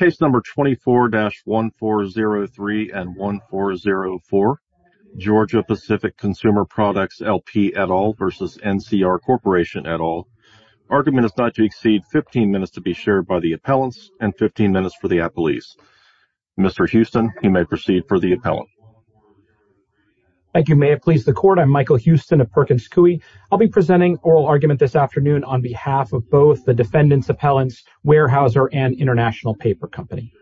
24-1403-1404 Georgia-Pacific Consumer Products L.P. et al. v. NCR Corp. et al. Argument is not to exceed 15 minutes to be shared by the appellants and 15 minutes for the appellees. Mr. Houston, you may proceed for the appellant. Thank you. May it please the Court. I'm Michael Houston of Perkins Coie. I'll be presenting oral argument this afternoon on behalf of both the defendants' appellants, Weyerhaeuser, and International Paper Company.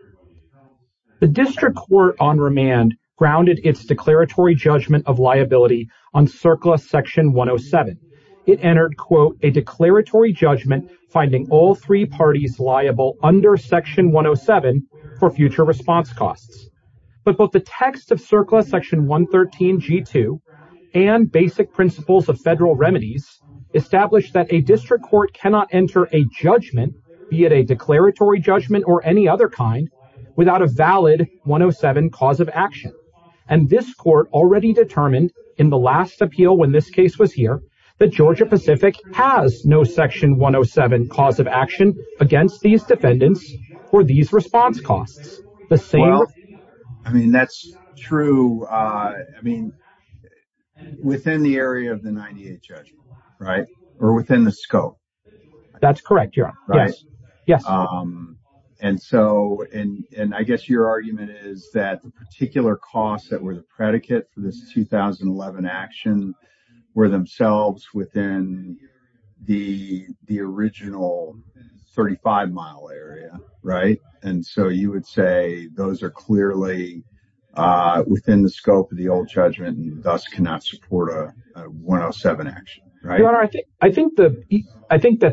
The district court on remand grounded its declaratory judgment of liability on CERCLA Section 107. It entered, quote, a declaratory judgment finding all three parties liable under Section 107 for future response costs. But both the text of CERCLA Section 113-G2 and basic principles of federal remedies establish that a district court cannot enter a judgment, be it a declaratory judgment or any other kind, without a valid 107 cause of action. And this court already determined in the last appeal when this case was here that Georgia-Pacific has no Section 107 cause of action against these defendants for these response costs. Well, I mean, that's true. I mean, within the area of the 98 judgment, right? Or within the scope? That's correct. Yes. And so, and I guess your argument is that the particular costs that were the predicate for this 2011 action were themselves within the original 35-mile area, right? And so you would say those are clearly within the scope of the old judgment and thus cannot support a 107 action, right? Your Honor, I think that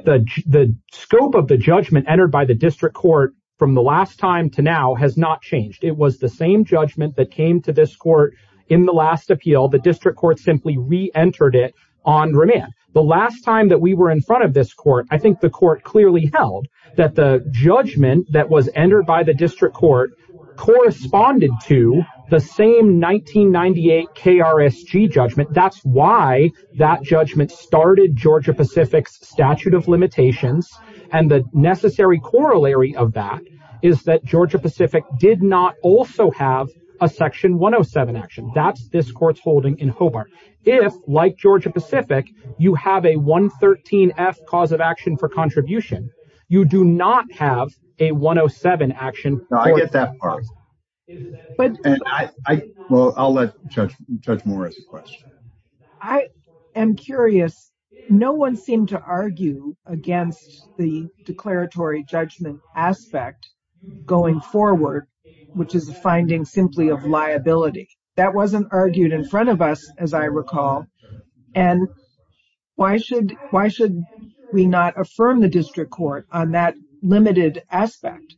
the scope of the judgment entered by the district court from the last time to now has not changed. It was the same judgment that came to this court in the last appeal. The district court simply re-entered it on remand. The last time that we were in front of this court, I think the court clearly held that the judgment that was entered by the district court corresponded to the same 1998 KRSG judgment. That's why that judgment started Georgia-Pacific's statute of limitations. And the necessary corollary of that is that Georgia-Pacific did not also have a Section 107 action. That's this court's holding in Hobart. If, like Georgia-Pacific, you have a 113F cause of action for contribution, you do not have a 107 action. No, I get that part. Well, I'll let Judge Morris question. I am curious. No one seemed to argue against the declaratory judgment aspect going forward, which is a finding simply of liability. That wasn't argued in front of us, as I recall. And why should we not affirm the district court on that limited aspect?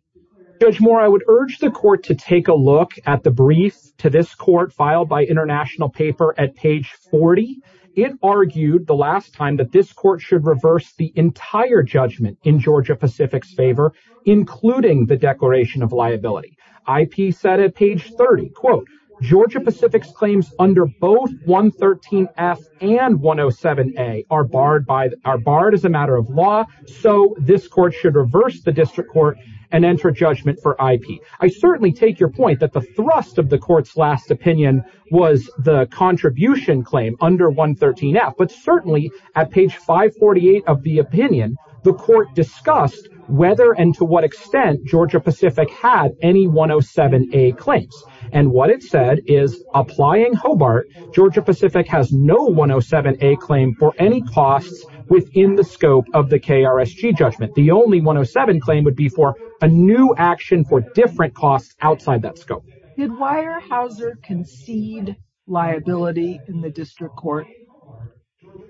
Judge Moore, I would urge the court to take a look at the brief to this court filed by International Paper at page 40. It argued the last time that this court should reverse the entire judgment in Georgia-Pacific's favor, including the declaration of liability. IP said at page 30, quote, Georgia-Pacific's claims under both 113F and 107A are barred as a matter of law. So this court should reverse the district court and enter judgment for IP. I certainly take your point that the thrust of the court's last opinion was the contribution claim under 113F. But certainly at page 548 of the opinion, the court discussed whether and to what extent Georgia-Pacific had any 107A claims. And what it said is, applying Hobart, Georgia-Pacific has no 107A claim for any costs within the scope of the KRSG judgment. The only 107 claim would be for a new action for different costs outside that scope. Did Weyerhaeuser concede liability in the district court?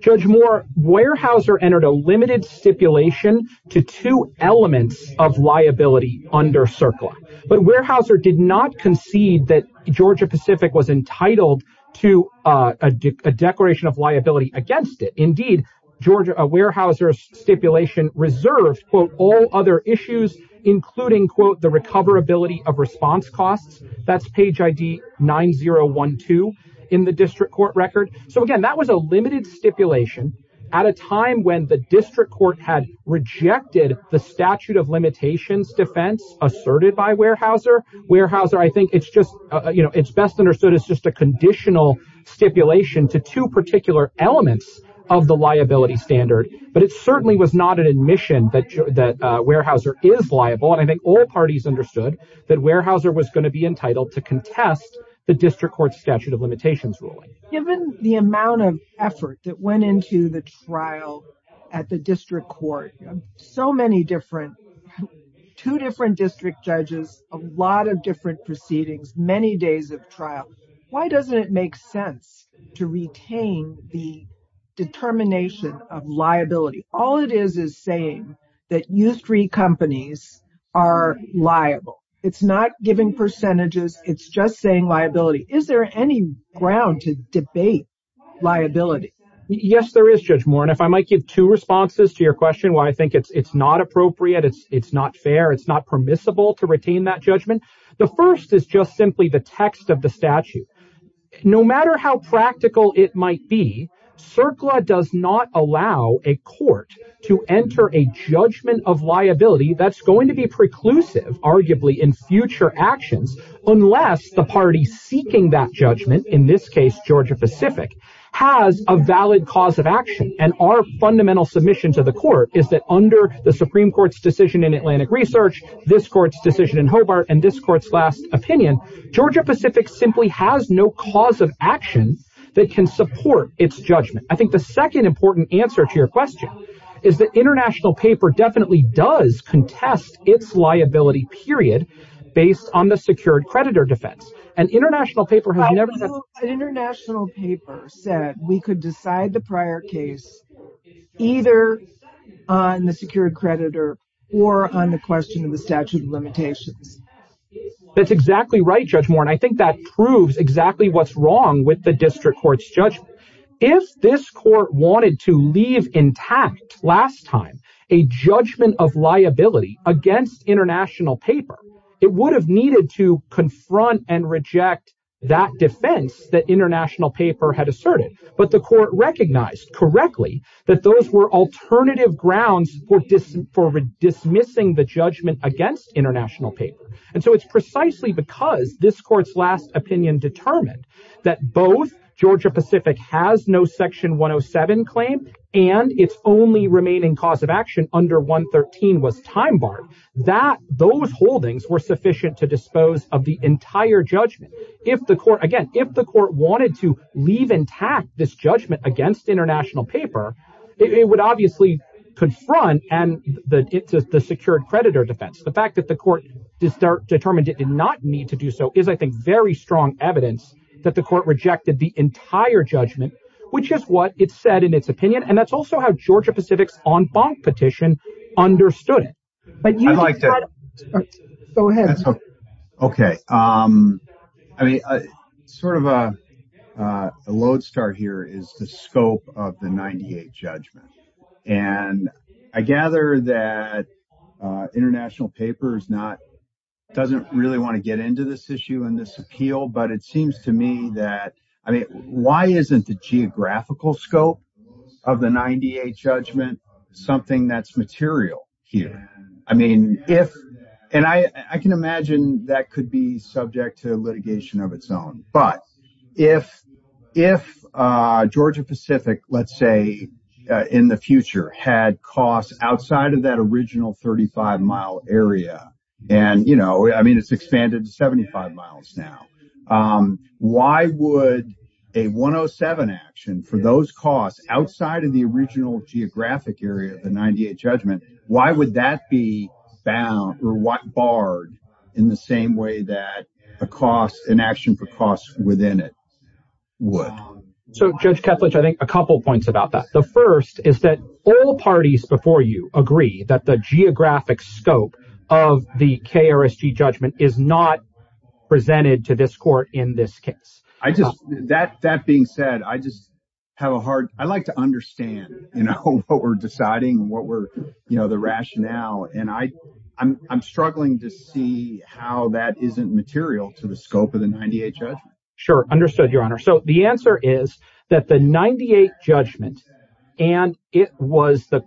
Judge Moore, Weyerhaeuser entered a limited stipulation to two elements of liability under CERCLA. But Weyerhaeuser did not concede that Georgia-Pacific was entitled to a declaration of liability against it. Indeed, Weyerhaeuser's stipulation reserved, quote, all other issues, including, quote, the recoverability of response costs. That's page ID 9012 in the district court record. So, again, that was a limited stipulation at a time when the district court had rejected the statute of limitations defense asserted by Weyerhaeuser. Weyerhaeuser, I think it's just, you know, it's best understood as just a conditional stipulation to two particular elements of the liability standard. But it certainly was not an admission that Weyerhaeuser is liable. And I think all parties understood that Weyerhaeuser was going to be entitled to contest the district court statute of limitations ruling. Given the amount of effort that went into the trial at the district court, so many different two different district judges, a lot of different proceedings, many days of trial. Why doesn't it make sense to retain the determination of liability? All it is is saying that you three companies are liable. It's not giving percentages. It's just saying liability. Is there any ground to debate liability? Yes, there is, Judge Moore. And if I might give two responses to your question, why I think it's not appropriate, it's not fair, it's not permissible to retain that judgment. The first is just simply the text of the statute. No matter how practical it might be, CERCLA does not allow a court to enter a judgment of liability that's going to be preclusive, arguably, in future actions, unless the party seeking that judgment, in this case, Georgia Pacific, has a valid cause of action. And our fundamental submission to the court is that under the Supreme Court's decision in Atlantic Research, this court's decision in Hobart, and this court's last opinion, Georgia Pacific simply has no cause of action that can support its judgment. I think the second important answer to your question is that international paper definitely does contest its liability, period, based on the secured creditor defense. An international paper said we could decide the prior case either on the secured creditor or on the question of the statute of limitations. That's exactly right, Judge Moore, and I think that proves exactly what's wrong with the district court's judgment. If this court wanted to leave intact last time a judgment of liability against international paper, it would have needed to confront and reject that defense that international paper had asserted. But the court recognized correctly that those were alternative grounds for dismissing the judgment against international paper. And so it's precisely because this court's last opinion determined that both Georgia Pacific has no Section 107 claim and its only remaining cause of action under 113 was time barred, that those holdings were sufficient to dispose of the entire judgment. Again, if the court wanted to leave intact this judgment against international paper, it would obviously confront the secured creditor defense. The fact that the court determined it did not need to do so is, I think, very strong evidence that the court rejected the entire judgment, which is what it said in its opinion, and that's also how Georgia Pacific's en banc petition understood it. Go ahead. OK, I mean, sort of a load start here is the scope of the 98 judgment. And I gather that international paper is not doesn't really want to get into this issue and this appeal. But it seems to me that I mean, why isn't the geographical scope of the 98 judgment something that's material here? I mean, if and I can imagine that could be subject to litigation of its own. But if if Georgia Pacific, let's say in the future, had costs outside of that original 35 mile area and, you know, I mean, it's expanded to 75 miles now. Why would a one oh seven action for those costs outside of the original geographic area of the 98 judgment? Why would that be bound or what barred in the same way that a cost an action for costs within it? So, Judge Kethledge, I think a couple of points about that. The first is that all parties before you agree that the geographic scope of the KRG judgment is not presented to this court in this case. I just that that being said, I just have a hard I like to understand what we're deciding, what we're the rationale. And I I'm struggling to see how that isn't material to the scope of the 98. Sure, understood, Your Honor. So the answer is that the 98 judgment and it was the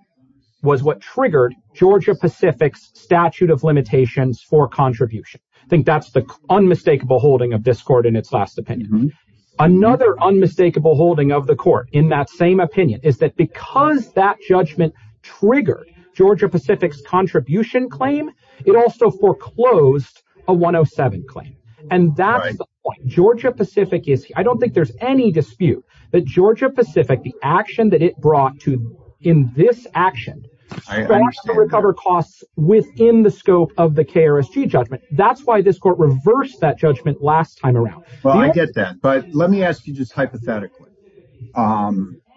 was what triggered Georgia Pacific's statute of limitations for contribution. I think that's the unmistakable holding of this court in its last opinion. Another unmistakable holding of the court in that same opinion is that because that judgment triggered Georgia Pacific's contribution claim, it also foreclosed a one oh seven claim. And that's what Georgia Pacific is. I don't think there's any dispute that Georgia Pacific, the action that it brought to in this action to recover costs within the scope of the KRG judgment. That's why this court reversed that judgment last time around. Well, I get that. But let me ask you just hypothetically.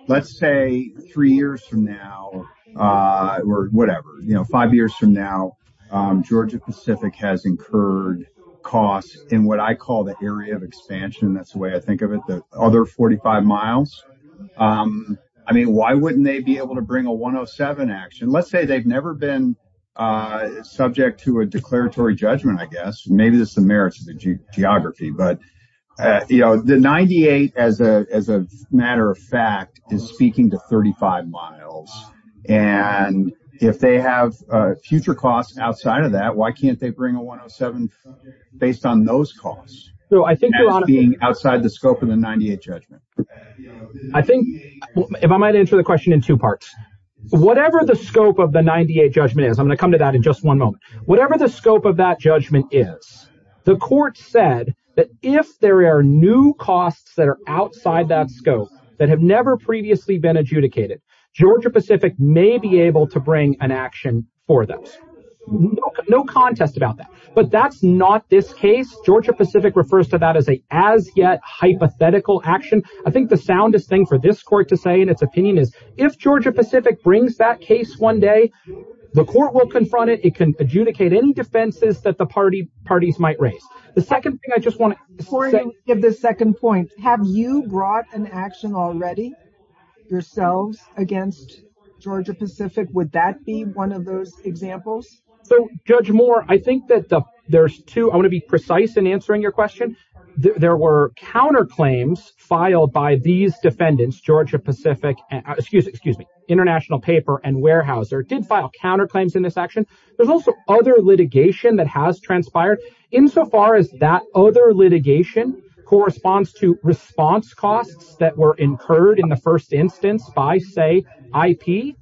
Let's say three years from now or whatever, five years from now, Georgia Pacific has incurred costs in what I call the area of expansion. That's the way I think of it. The other forty five miles. I mean, why wouldn't they be able to bring a one oh seven action? Let's say they've never been subject to a declaratory judgment, I guess. Maybe this is the merits of the geography, but, you know, the 98, as a matter of fact, is speaking to thirty five miles. And if they have future costs outside of that, why can't they bring a one oh seven based on those costs? So I think being outside the scope of the 98 judgment, I think if I might answer the question in two parts, whatever the scope of the 98 judgment is, I'm going to come to that in just one moment. Whatever the scope of that judgment is, the court said that if there are new costs that are outside that scope that have never previously been adjudicated, Georgia Pacific may be able to bring an action for them. No contest about that. But that's not this case. Georgia Pacific refers to that as a as yet hypothetical action. I think the soundest thing for this court to say in its opinion is if Georgia Pacific brings that case one day, the court will confront it. It can adjudicate any defenses that the party parties might raise. The second thing I just want to give the second point. Have you brought an action already yourselves against Georgia Pacific? Would that be one of those examples? So, Judge Moore, I think that there's two. I want to be precise in answering your question. There were counterclaims filed by these defendants, Georgia Pacific. Excuse me. International Paper and Weyerhaeuser did file counterclaims in this action. There's also other litigation that has transpired insofar as that other litigation corresponds to response costs that were incurred in the first instance by, say, IP.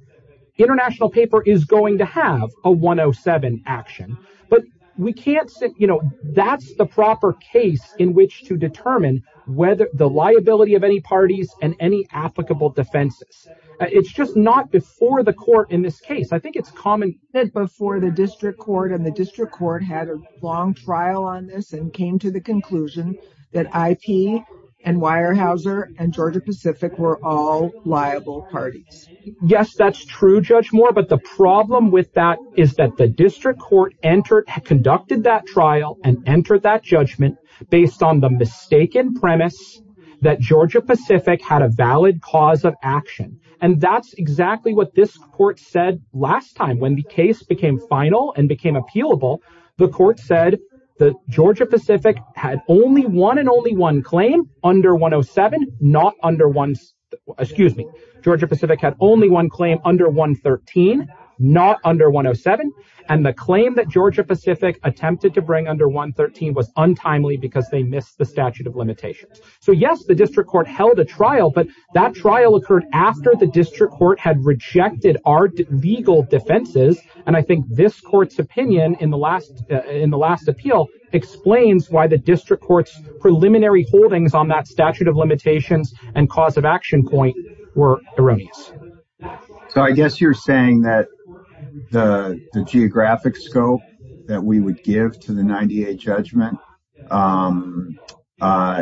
International Paper is going to have a 107 action, but we can't sit. You know, that's the proper case in which to determine whether the liability of any parties and any applicable defenses. It's just not before the court in this case. I think it's common before the district court and the district court had a long trial on this and came to the conclusion that IP and Weyerhaeuser and Georgia Pacific were all liable parties. Yes, that's true, Judge Moore. But the problem with that is that the district court entered, conducted that trial and entered that judgment based on the mistaken premise that Georgia Pacific had a valid cause of action. And that's exactly what this court said last time when the case became final and became appealable. The court said that Georgia Pacific had only one and only one claim under 107, not under one. Excuse me. Georgia Pacific had only one claim under 113, not under 107. And the claim that Georgia Pacific attempted to bring under 113 was untimely because they missed the statute of limitations. So, yes, the district court held a trial, but that trial occurred after the district court had rejected our legal defenses. And I think this court's opinion in the last in the last appeal explains why the district court's preliminary holdings on that statute of limitations and cause of action point were erroneous. So I guess you're saying that the geographic scope that we would give to the 98 judgment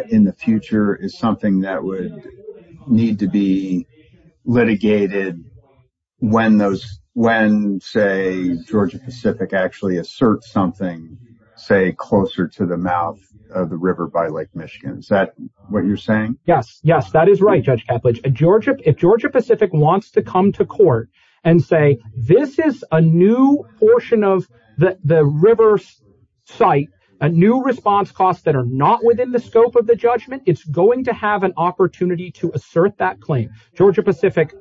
in the future is something that would need to be litigated when those when, say, Georgia Pacific actually assert something, say, closer to the mouth of the river by Lake Michigan. Is that what you're saying? Yes, yes, that is right. Judge, Georgia. If Georgia Pacific wants to come to court and say this is a new portion of the river site, a new response costs that are not within the scope of the judgment, it's going to have an opportunity to assert that claim. Georgia Pacific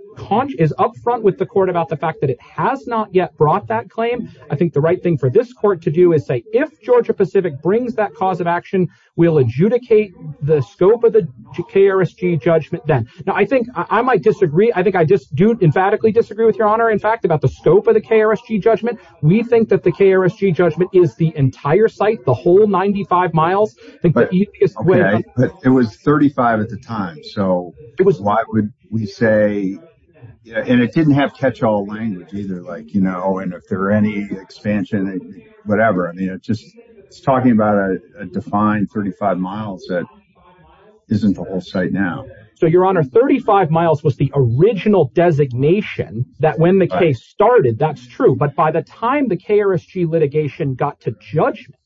is up front with the court about the fact that it has not yet brought that claim. I think the right thing for this court to do is say if Georgia Pacific brings that cause of action, we'll adjudicate the scope of the KRSG judgment then. Now, I think I might disagree. I think I just do emphatically disagree with your honor, in fact, about the scope of the KRSG judgment. We think that the KRSG judgment is the entire site, the whole 95 miles. But it was 35 at the time. So it was why would we say and it didn't have catch all language either, like, you know, and if there are any expansion, whatever. I mean, it just it's talking about a defined 35 miles that isn't the whole site now. So your honor, 35 miles was the original designation that when the case started, that's true. But by the time the KRSG litigation got to judgment,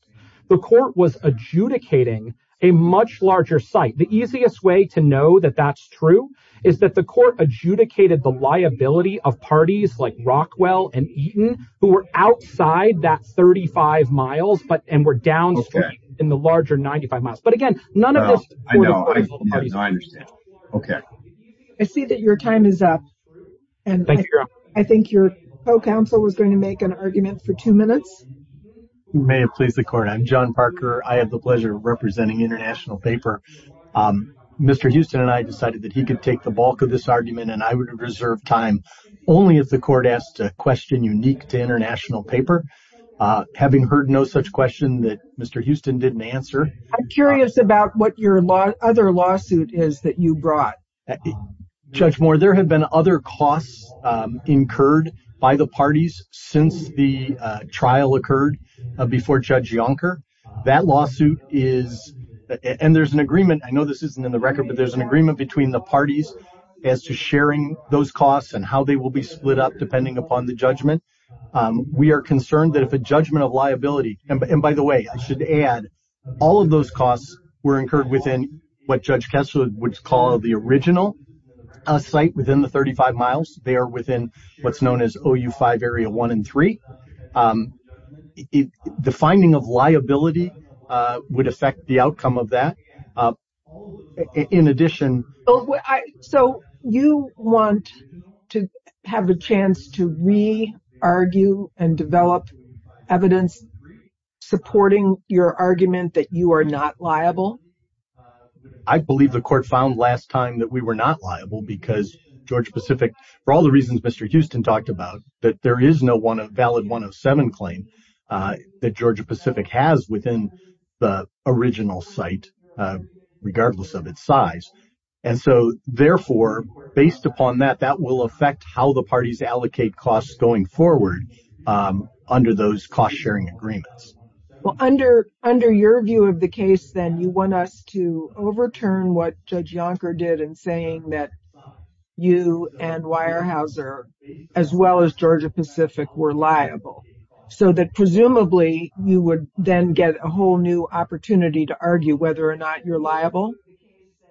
the court was adjudicating a much larger site. The easiest way to know that that's true is that the court adjudicated the liability of parties like Rockwell and Eaton who were outside that 35 miles. But and we're down in the larger 95 miles. But again, none of this. I know. I understand. OK, I see that your time is up. And thank you. I think your counsel was going to make an argument for two minutes. You may have pleased the court. I'm John Parker. I have the pleasure of representing international paper. Mr. Houston and I decided that he could take the bulk of this argument and I would reserve time only if the court asked a question unique to international paper. Having heard no such question that Mr. Houston didn't answer. I'm curious about what your other lawsuit is that you brought. Judge Moore, there have been other costs incurred by the parties since the trial occurred before Judge Yonker. That lawsuit is. And there's an agreement. I know this isn't in the record, but there's an agreement between the parties as to sharing those costs and how they will be split up depending upon the judgment. We are concerned that if a judgment of liability. And by the way, I should add, all of those costs were incurred within what Judge Kessler would call the original site within the 35 miles. They are within what's known as OU five area one and three. The finding of liability would affect the outcome of that. In addition. So you want to have a chance to re argue and develop evidence supporting your argument that you are not liable? I believe the court found last time that we were not liable because Georgia Pacific. For all the reasons Mr. Houston talked about, that there is no one valid one of seven claim that Georgia Pacific has within the original site, regardless of its size. And so, therefore, based upon that, that will affect how the parties allocate costs going forward under those cost sharing agreements. Well, under under your view of the case, then you want us to overturn what Judge Yonker did and saying that you and Weyerhaeuser as well as Georgia Pacific were liable. So that presumably you would then get a whole new opportunity to argue whether or not you're liable.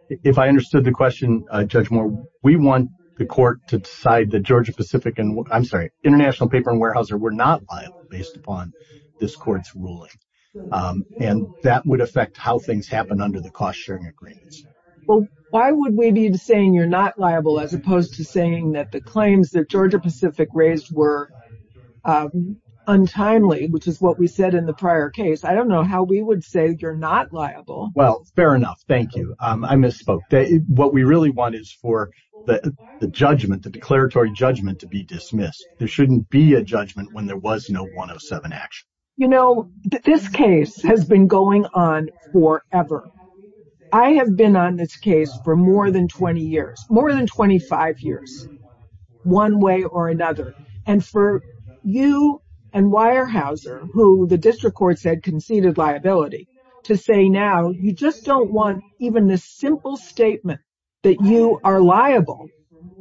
If I understood the question, Judge Moore, we want the court to decide that Georgia Pacific and I'm sorry, international paper and Weyerhaeuser were not liable based upon this court's ruling. And that would affect how things happen under the cost sharing agreements. Well, why would we be saying you're not liable as opposed to saying that the claims that Georgia Pacific raised were untimely, which is what we said in the prior case? I don't know how we would say you're not liable. Well, fair enough. Thank you. I misspoke. What we really want is for the judgment, the declaratory judgment to be dismissed. There shouldn't be a judgment when there was no one of seven action. You know, this case has been going on forever. I have been on this case for more than 20 years, more than 25 years, one way or another. And for you and Weyerhaeuser, who the district court said conceded liability to say now you just don't want even the simple statement that you are liable,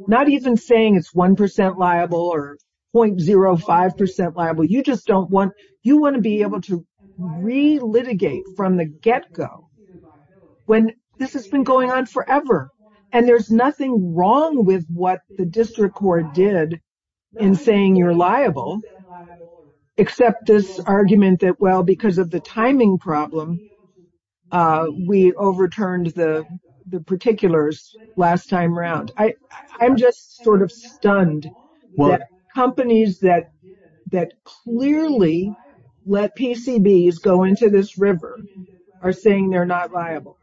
not even saying it's one percent liable or point zero five percent liable. You just don't want you want to be able to relitigate from the get go when this has been going on forever. And there's nothing wrong with what the district court did in saying you're liable, except this argument that, well, because of the timing problem, we overturned the particulars last time around. I I'm just sort of stunned what companies that that clearly let PCBs go into this river are saying they're not liable.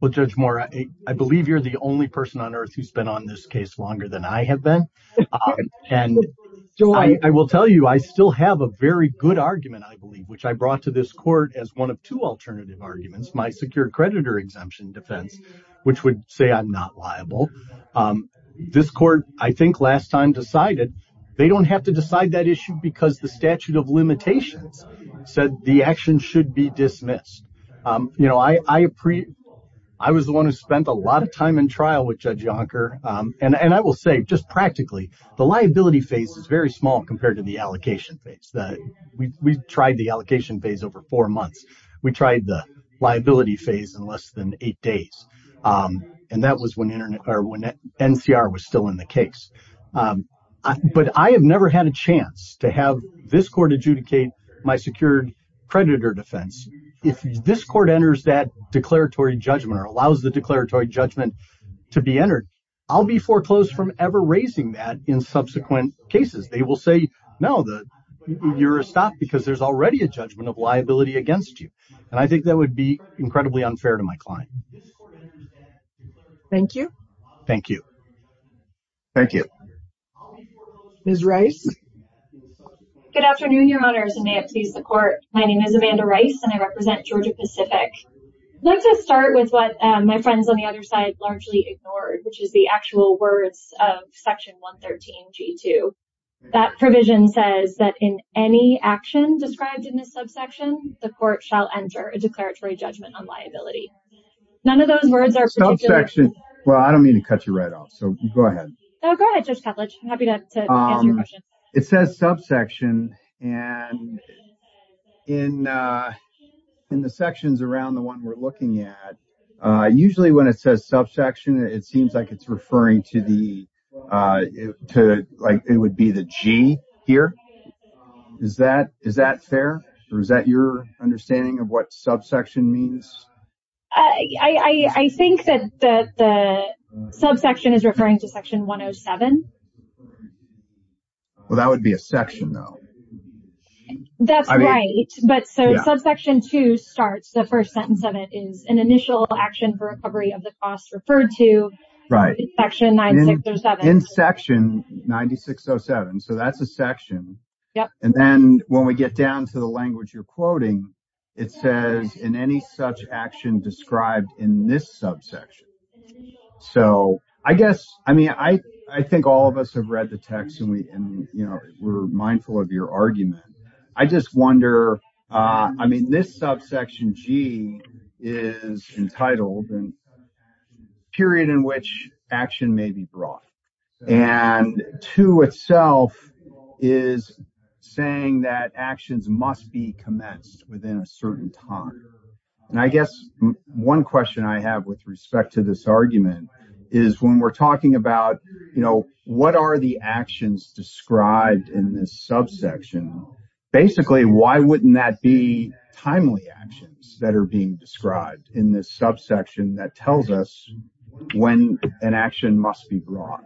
Well, Judge Moore, I believe you're the only person on earth who's been on this case longer than I have been. And I will tell you, I still have a very good argument, I believe, which I brought to this court as one of two alternative arguments. My secure creditor exemption defense, which would say I'm not liable. This court, I think last time decided they don't have to decide that issue because the statute of limitations said the action should be dismissed. You know, I, I, I was the one who spent a lot of time in trial with Judge Yonker. And I will say just practically the liability phase is very small compared to the allocation phase that we tried the allocation phase over four months. We tried the liability phase in less than eight days. And that was when Internet or when NCR was still in the case. But I have never had a chance to have this court adjudicate my secured creditor defense. If this court enters that declaratory judgment or allows the declaratory judgment to be entered, I'll be foreclosed from ever raising that in subsequent cases. They will say, no, you're a stop because there's already a judgment of liability against you. And I think that would be incredibly unfair to my client. Thank you. Thank you. Thank you. Ms. Rice. Good afternoon, Your Honors, and may it please the court. My name is Amanda Rice and I represent Georgia Pacific. Let's just start with what my friends on the other side largely ignored, which is the actual words of Section 113 G2. That provision says that in any action described in this subsection, the court shall enter a declaratory judgment on liability. None of those words are subsection. Well, I don't mean to cut you right off. So go ahead. Go ahead. It says subsection. And in in the sections around the one we're looking at, usually when it says subsection, it seems like it's referring to the to like it would be the G here. Is that is that fair? Or is that your understanding of what subsection means? I think that the subsection is referring to Section 107. Well, that would be a section, though. That's right. But so subsection two starts. The first sentence of it is an initial action for recovery of the cost referred to. Right. Section nine, six or seven. In Section 9607. So that's a section. Yeah. And then when we get down to the language you're quoting, it says in any such action described in this subsection. So I guess I mean, I, I think all of us have read the text and we were mindful of your argument. I just wonder. I mean, this subsection G is entitled and. Period in which action may be brought. And to itself is saying that actions must be commenced within a certain time. And I guess one question I have with respect to this argument is when we're talking about, you know, what are the actions described in this subsection? Basically, why wouldn't that be timely actions that are being described in this subsection? That tells us when an action must be brought.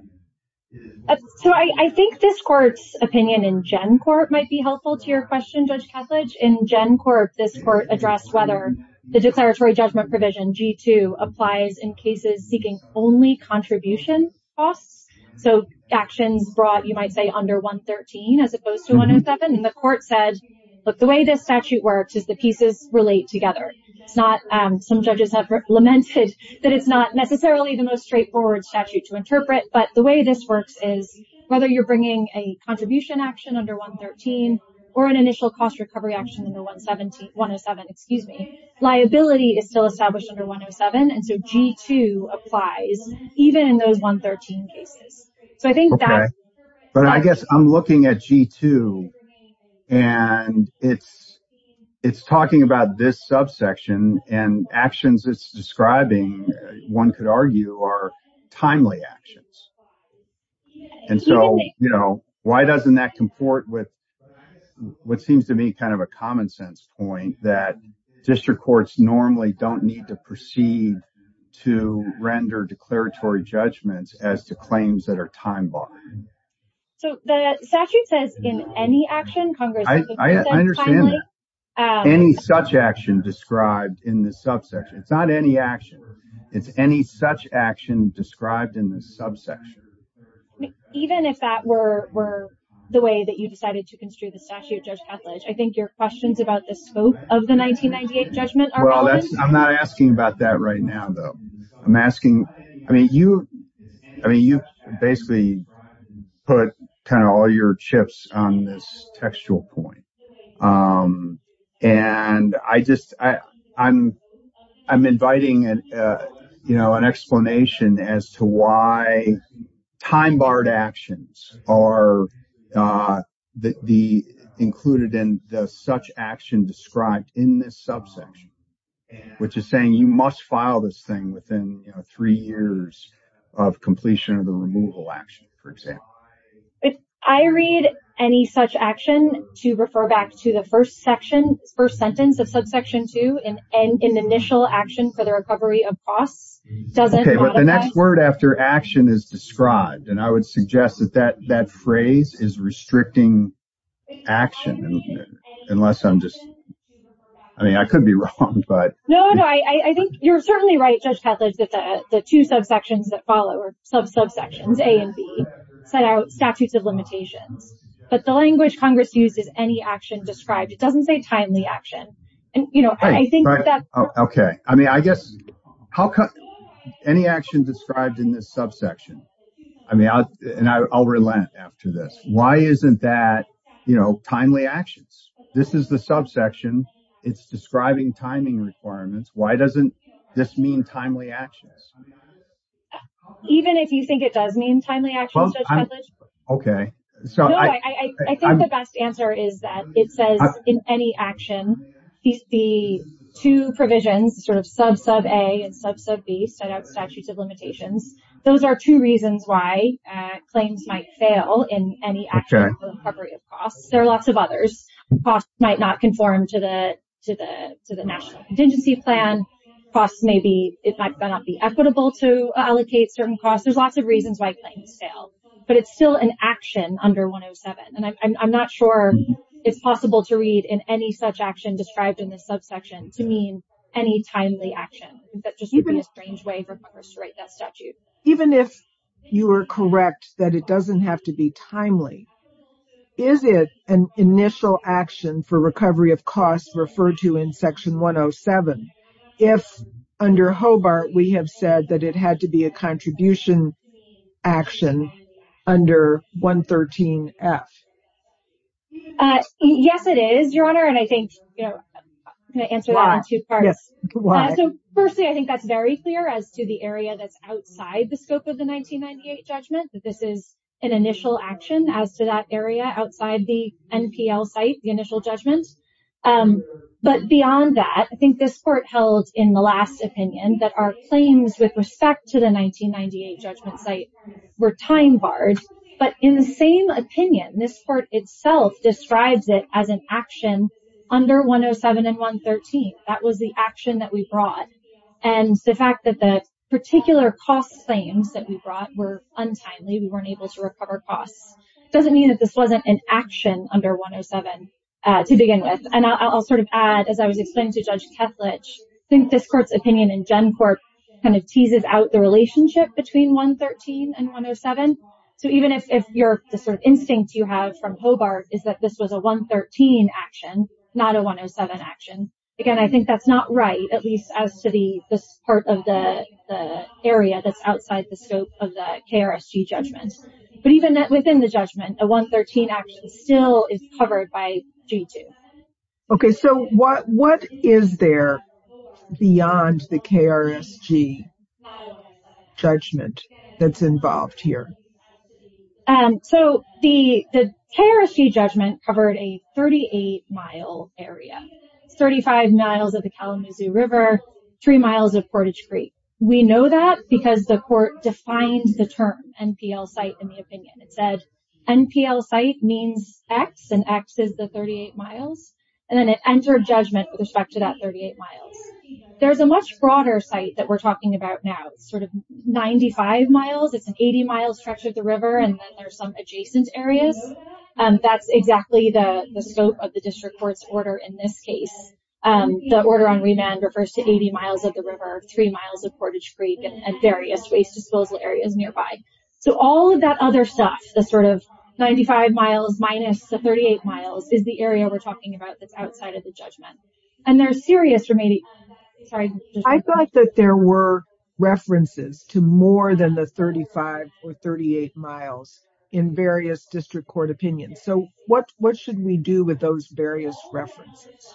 So I think this court's opinion in Gen Court might be helpful to your question, Judge Ketledge. In Gen Court, this court addressed whether the declaratory judgment provision G2 applies in cases seeking only contribution costs. So actions brought, you might say, under 113 as opposed to 107. And the court said, look, the way this statute works is the pieces relate together. It's not, some judges have lamented that it's not necessarily the most straightforward statute to interpret. But the way this works is whether you're bringing a contribution action under 113 or an initial cost recovery action in the 107, excuse me, liability is still established under 107. And so G2 applies even in those 113 cases. But I guess I'm looking at G2 and it's talking about this subsection and actions it's describing, one could argue, are timely actions. And so, you know, why doesn't that comport with what seems to me kind of a common sense point that district courts normally don't need to proceed to render declaratory judgments as to claims that are time barred. So the statute says in any action, Congress, I understand that. Any such action described in the subsection, it's not any action. It's any such action described in the subsection. Even if that were the way that you decided to construe the statute, Judge Catledge, I think your questions about the scope of the 1998 judgment are valid. I'm not asking about that right now, though. I'm asking, I mean, you, I mean, you basically put kind of all your chips on this textual point. And I just I'm I'm inviting, you know, an explanation as to why time barred actions are included in such action described in this subsection, which is saying you must file this thing within three years of completion of the removal action, for example. I read any such action to refer back to the first section, first sentence of subsection two and an initial action for the recovery of costs. But the next word after action is described. And I would suggest that that that phrase is restricting action. Unless I'm just I mean, I could be wrong, but no, no, I think you're certainly right. The two subsections that follow are subsections A and B set out statutes of limitations. But the language Congress uses any action described, it doesn't say timely action. And, you know, I think that. OK, I mean, I guess how any action described in this subsection? I mean, and I'll relent after this. Why isn't that, you know, timely actions? This is the subsection. It's describing timing requirements. Why doesn't this mean timely actions? Even if you think it does mean timely actions. OK, so I think the best answer is that it says in any action. The two provisions sort of sub sub A and sub sub B set out statutes of limitations. Those are two reasons why claims might fail in any action. There are lots of others. Costs might not conform to the to the to the national contingency plan costs. Maybe it might not be equitable to allocate certain costs. There's lots of reasons why things fail, but it's still an action under 107. And I'm not sure it's possible to read in any such action described in this subsection to mean any timely action. That just would be a strange way for Congress to write that statute. Even if you are correct that it doesn't have to be timely. Is it an initial action for recovery of costs referred to in Section 107? If under Hobart, we have said that it had to be a contribution action under 113 F. Yes, it is, Your Honor. And I think, you know, I'm going to answer that in two parts. Firstly, I think that's very clear as to the area that's outside the scope of the 1998 judgment. This is an initial action as to that area outside the NPL site, the initial judgment. But beyond that, I think this court held in the last opinion that our claims with respect to the 1998 judgment site were time barred. But in the same opinion, this court itself describes it as an action under 107 and 113. That was the action that we brought. And the fact that the particular cost claims that we brought were untimely, we weren't able to recover costs, doesn't mean that this wasn't an action under 107 to begin with. And I'll sort of add, as I was explaining to Judge Kethledge, I think this court's opinion in GenCorp kind of teases out the relationship between 113 and 107. So even if the sort of instinct you have from Hobart is that this was a 113 action, not a 107 action, again, I think that's not right, at least as to this part of the area that's outside the scope of the KRSG judgment. But even within the judgment, a 113 action still is covered by G2. Okay, so what is there beyond the KRSG judgment that's involved here? So the KRSG judgment covered a 38-mile area, 35 miles of the Kalamazoo River, three miles of Portage Creek. We know that because the court defined the term NPL site in the opinion. It said NPL site means X, and X is the 38 miles. And then it entered judgment with respect to that 38 miles. There's a much broader site that we're talking about now. It's sort of 95 miles, it's an 80-mile stretch of the river, and then there's some adjacent areas. That's exactly the scope of the district court's order in this case. The order on remand refers to 80 miles of the river, three miles of Portage Creek, and various waste disposal areas nearby. So all of that other stuff, the sort of 95 miles minus the 38 miles, is the area we're talking about that's outside of the judgment. I thought that there were references to more than the 35 or 38 miles in various district court opinions. So what should we do with those various references?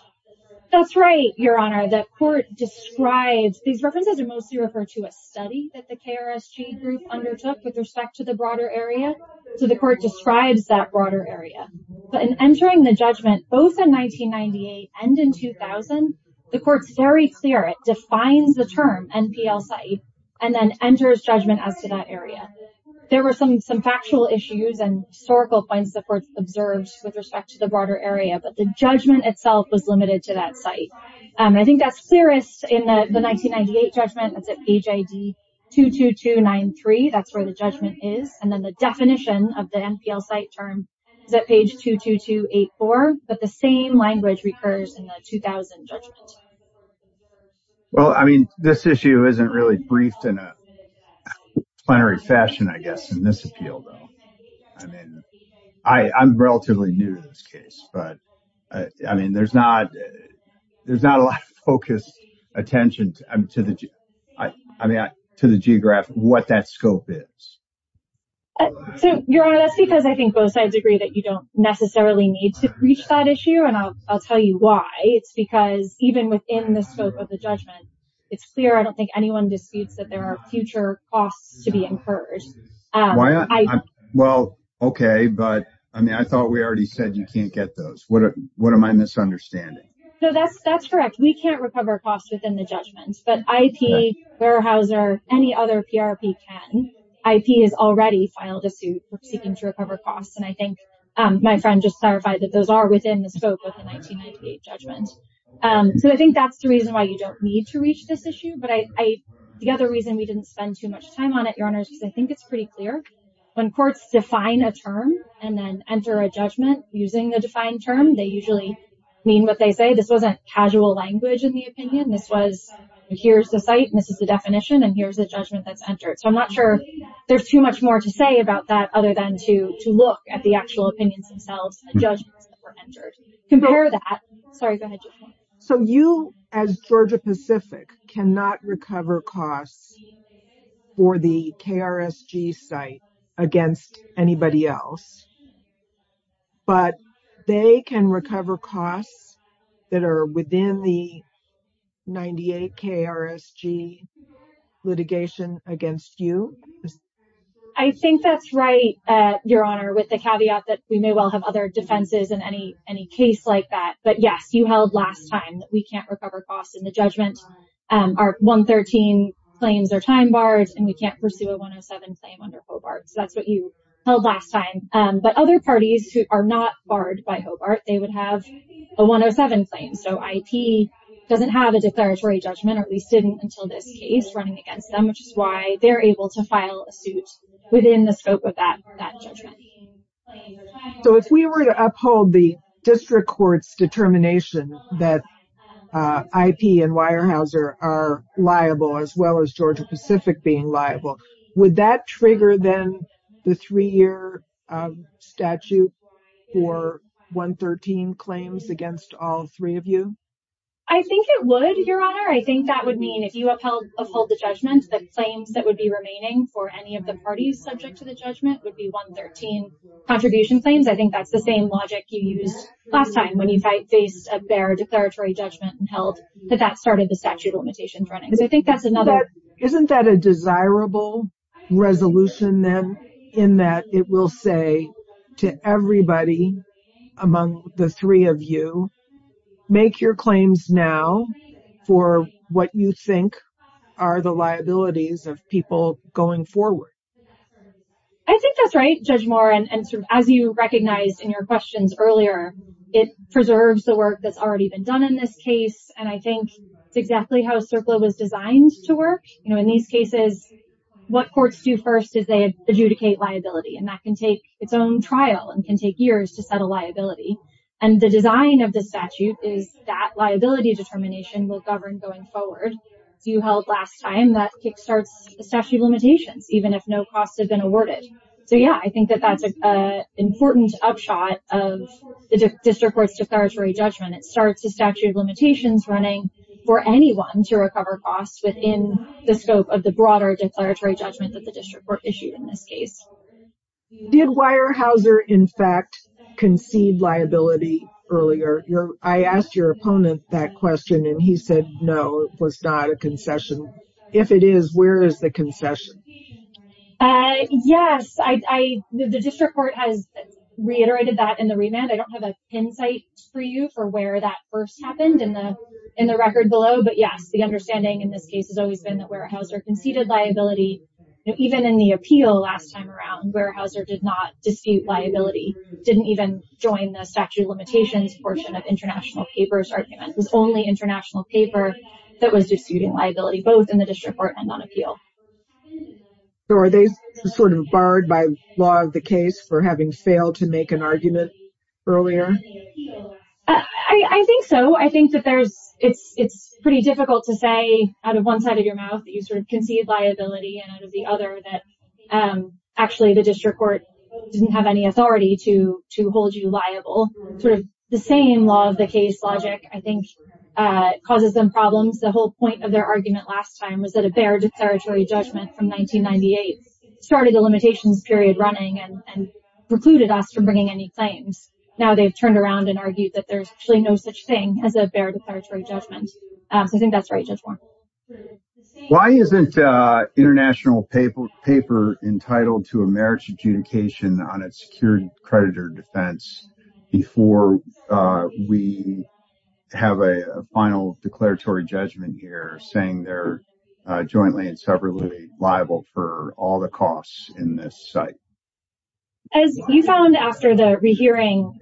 That's right, Your Honor. These references are mostly referred to a study that the KRSG group undertook with respect to the broader area. So the court describes that broader area. But in entering the judgment, both in 1998 and in 2000, the court's very clear. It defines the term NPL site and then enters judgment as to that area. There were some factual issues and historical points the court observed with respect to the broader area, but the judgment itself was limited to that site. I think that's clearest in the 1998 judgment. That's at page ID 22293, that's where the judgment is. And then the definition of the NPL site term is at page 22284, but the same language recurs in the 2000 judgment. Well, I mean, this issue isn't really briefed in a plenary fashion, I guess, in this appeal, though. I mean, I'm relatively new to this case, but I mean, there's not a lot of focused attention to the geographic, what that scope is. So, Your Honor, that's because I think both sides agree that you don't necessarily need to reach that issue. And I'll tell you why. It's because even within the scope of the judgment, it's clear. I don't think anyone disputes that there are future costs to be incurred. Well, OK, but I mean, I thought we already said you can't get those. What am I misunderstanding? So that's correct. We can't recover costs within the judgment. But IP, warehouser, any other PRP can. IP has already filed a suit seeking to recover costs. And I think my friend just clarified that those are within the scope of the 1998 judgment. So I think that's the reason why you don't need to reach this issue. But the other reason we didn't spend too much time on it, Your Honor, is because I think it's pretty clear. When courts define a term and then enter a judgment using the defined term, they usually mean what they say. This wasn't casual language in the opinion. Here's the site. This is the definition. And here's the judgment that's entered. So I'm not sure there's too much more to say about that other than to look at the actual opinions themselves and judgments that were entered. Compare that. Sorry, go ahead. So you, as Georgia-Pacific, cannot recover costs for the KRSG site against anybody else. But they can recover costs that are within the 98 KRSG litigation against you? I think that's right, Your Honor, with the caveat that we may well have other defenses in any case like that. But yes, you held last time that we can't recover costs in the judgment. Our 113 claims are time barred and we can't pursue a 107 claim under Hobart. So that's what you held last time. But other parties who are not barred by Hobart, they would have a 107 claim. So IP doesn't have a declaratory judgment or at least didn't until this case running against them, which is why they're able to file a suit within the scope of that judgment. So if we were to uphold the district court's determination that IP and Weyerhaeuser are liable as well as Georgia-Pacific being liable, would that trigger then the three-year statute for 113 claims against all three of you? I think it would, Your Honor. I think that would mean if you uphold the judgment, the claims that would be remaining for any of the parties subject to the judgment would be 113 contribution claims. I think that's the same logic you used last time when you faced a bare declaratory judgment and held that that started the statute of limitations running. Isn't that a desirable resolution then in that it will say to everybody among the three of you, make your claims now for what you think are the liabilities of people going forward? I think that's right, Judge Moore. And as you recognized in your questions earlier, it preserves the work that's already been done in this case. And I think it's exactly how CERCLA was designed to work. In these cases, what courts do first is they adjudicate liability, and that can take its own trial and can take years to settle liability. And the design of the statute is that liability determination will govern going forward. As you held last time, that kickstarts the statute of limitations, even if no costs have been awarded. So yeah, I think that that's an important upshot of the district court's declaratory judgment. It starts the statute of limitations running for anyone to recover costs within the scope of the broader declaratory judgment that the district court issued in this case. Did Weyerhaeuser in fact concede liability earlier? I asked your opponent that question and he said no, it was not a concession. If it is, where is the concession? Yes, the district court has reiterated that in the remand. I don't have an insight for you for where that first happened in the record below, but yes, the understanding in this case has always been that Weyerhaeuser conceded liability. Even in the appeal last time around, Weyerhaeuser did not dispute liability, didn't even join the statute of limitations portion of international papers argument. It was only international paper that was disputing liability, both in the district court and on appeal. So are they sort of barred by law of the case for having failed to make an argument? I think so. I think that it's pretty difficult to say out of one side of your mouth that you sort of conceded liability and out of the other that actually the district court didn't have any authority to hold you liable. Sort of the same law of the case logic, I think, causes them problems. The whole point of their argument last time was that a barred declaratory judgment from 1998 started the limitations period running and precluded us from bringing any claims. And now they've turned around and argued that there's actually no such thing as a barred declaratory judgment. So I think that's right, Judge Warren. Why isn't international paper entitled to a marriage adjudication on its security creditor defense before we have a final declaratory judgment here saying they're jointly and separately liable for all the costs in this site? As you found after the rehearing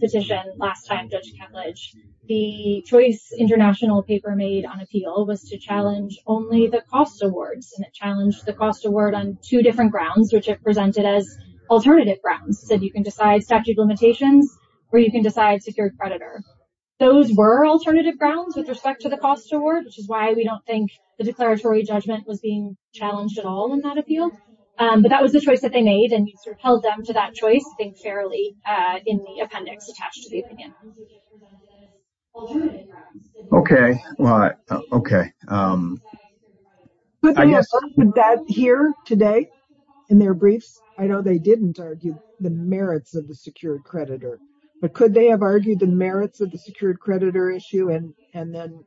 petition last time, Judge Kemledge, the choice international paper made on appeal was to challenge only the cost awards. And it challenged the cost award on two different grounds, which it presented as alternative grounds. So you can decide statute of limitations or you can decide secured creditor. Those were alternative grounds with respect to the cost award, which is why we don't think the declaratory judgment was being challenged at all in that appeal. But that was the choice that they made. And you sort of held them to that choice, I think, fairly in the appendix attached to the opinion. OK. Well, OK. Could they have argued that here today in their briefs? I know they didn't argue the merits of the secured creditor, but could they have argued the merits of the secured creditor issue? And then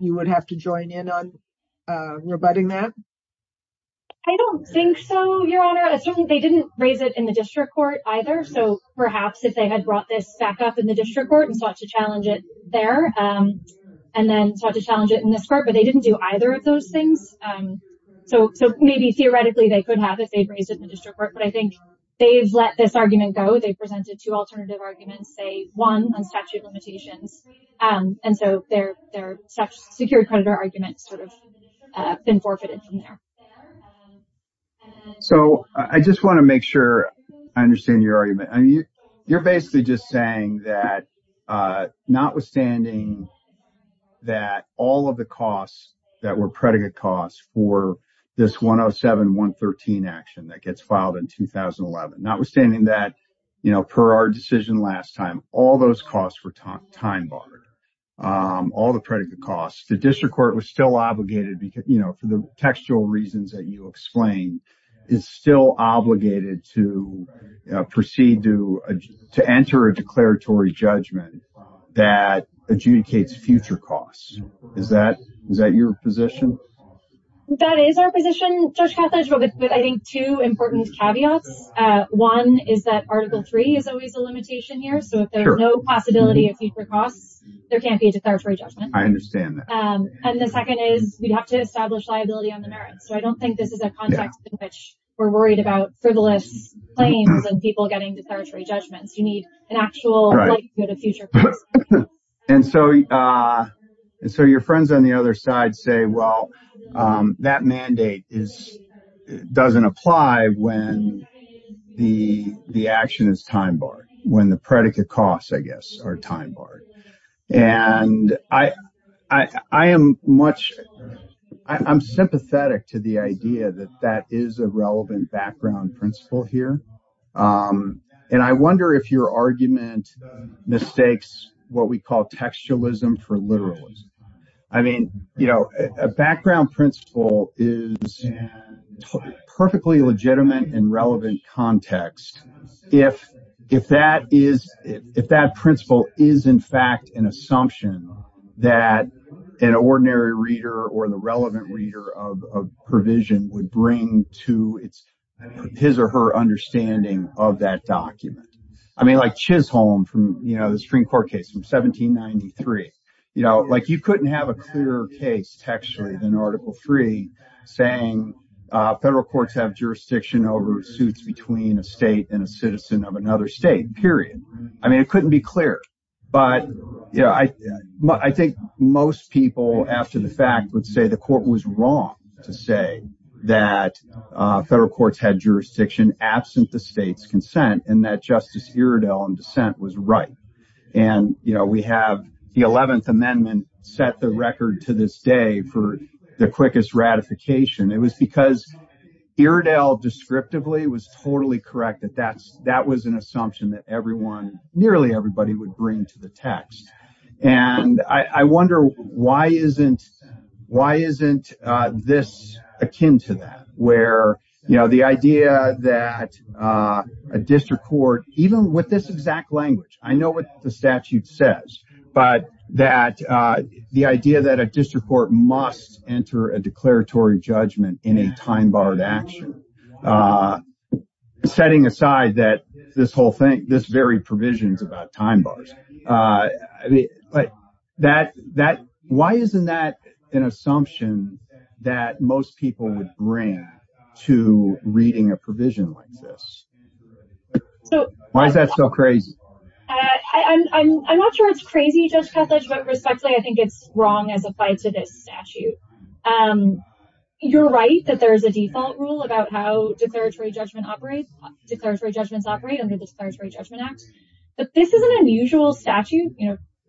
you would have to join in on rebutting that? I don't think so, Your Honor. They didn't raise it in the district court either. So perhaps if they had brought this back up in the district court and sought to challenge it there and then sought to challenge it in this court, but they didn't do either of those things. So maybe theoretically they could have if they'd raised it in the district court. But I think they've let this argument go. They presented two alternative arguments, say one on statute of limitations. And so their secured creditor argument sort of been forfeited from there. So I just want to make sure I understand your argument. You're basically just saying that notwithstanding that all of the costs that were predicate costs for this 107-113 action that gets filed in 2011, notwithstanding that, you know, for our decision last time, all those costs were time barred. All the predicate costs. The district court was still obligated, you know, for the textual reasons that you explained, is still obligated to proceed to enter a declaratory judgment that adjudicates future costs. Is that your position? That is our position, Judge Kothledge, but I think two important caveats. One is that Article 3 is always a limitation here. So if there's no possibility of future costs, there can't be a declaratory judgment. I understand that. And the second is we'd have to establish liability on the merits. So I don't think this is a context in which we're worried about frivolous claims and people getting declaratory judgments. You need an actual likelihood of future costs. And so your friends on the other side say, well, that mandate doesn't apply when the action is time barred, when the predicate costs, I guess, are time barred. And I am sympathetic to the idea that that is a relevant background principle here. And I wonder if your argument mistakes what we call textualism for literalism. I mean, you know, a background principle is perfectly legitimate and relevant context. If that principle is, in fact, an assumption that an ordinary reader or the relevant reader of a provision would bring to his or her understanding of that document. I mean, like Chisholm from the Supreme Court case from 1793. You know, like you couldn't have a clearer case textually than Article 3 saying federal courts have jurisdiction over suits between a state and a citizen of another state, period. I mean, it couldn't be clearer. But I think most people, after the fact, would say the court was wrong to say that federal courts had jurisdiction absent the state's consent and that Justice Iredell in dissent was right. And we have the 11th Amendment set the record to this day for the quickest ratification. It was because Iredell descriptively was totally correct that that was an assumption that everyone, nearly everybody, would bring to the text. And I wonder why isn't this akin to that? Where, you know, the idea that a district court, even with this exact language, I know what the statute says, but that the idea that a district court must enter a declaratory judgment in a time-barred action, setting aside that this whole thing, this very provision is about time-bars. I mean, why isn't that an assumption that most people would bring to reading a provision like this? Why is that so crazy? I'm not sure it's crazy, Judge Kethledge, but respectfully, I think it's wrong as applied to this statute. You're right that there's a default rule about how declaratory judgments operate under the Declaratory Judgment Act, but this is an unusual statute.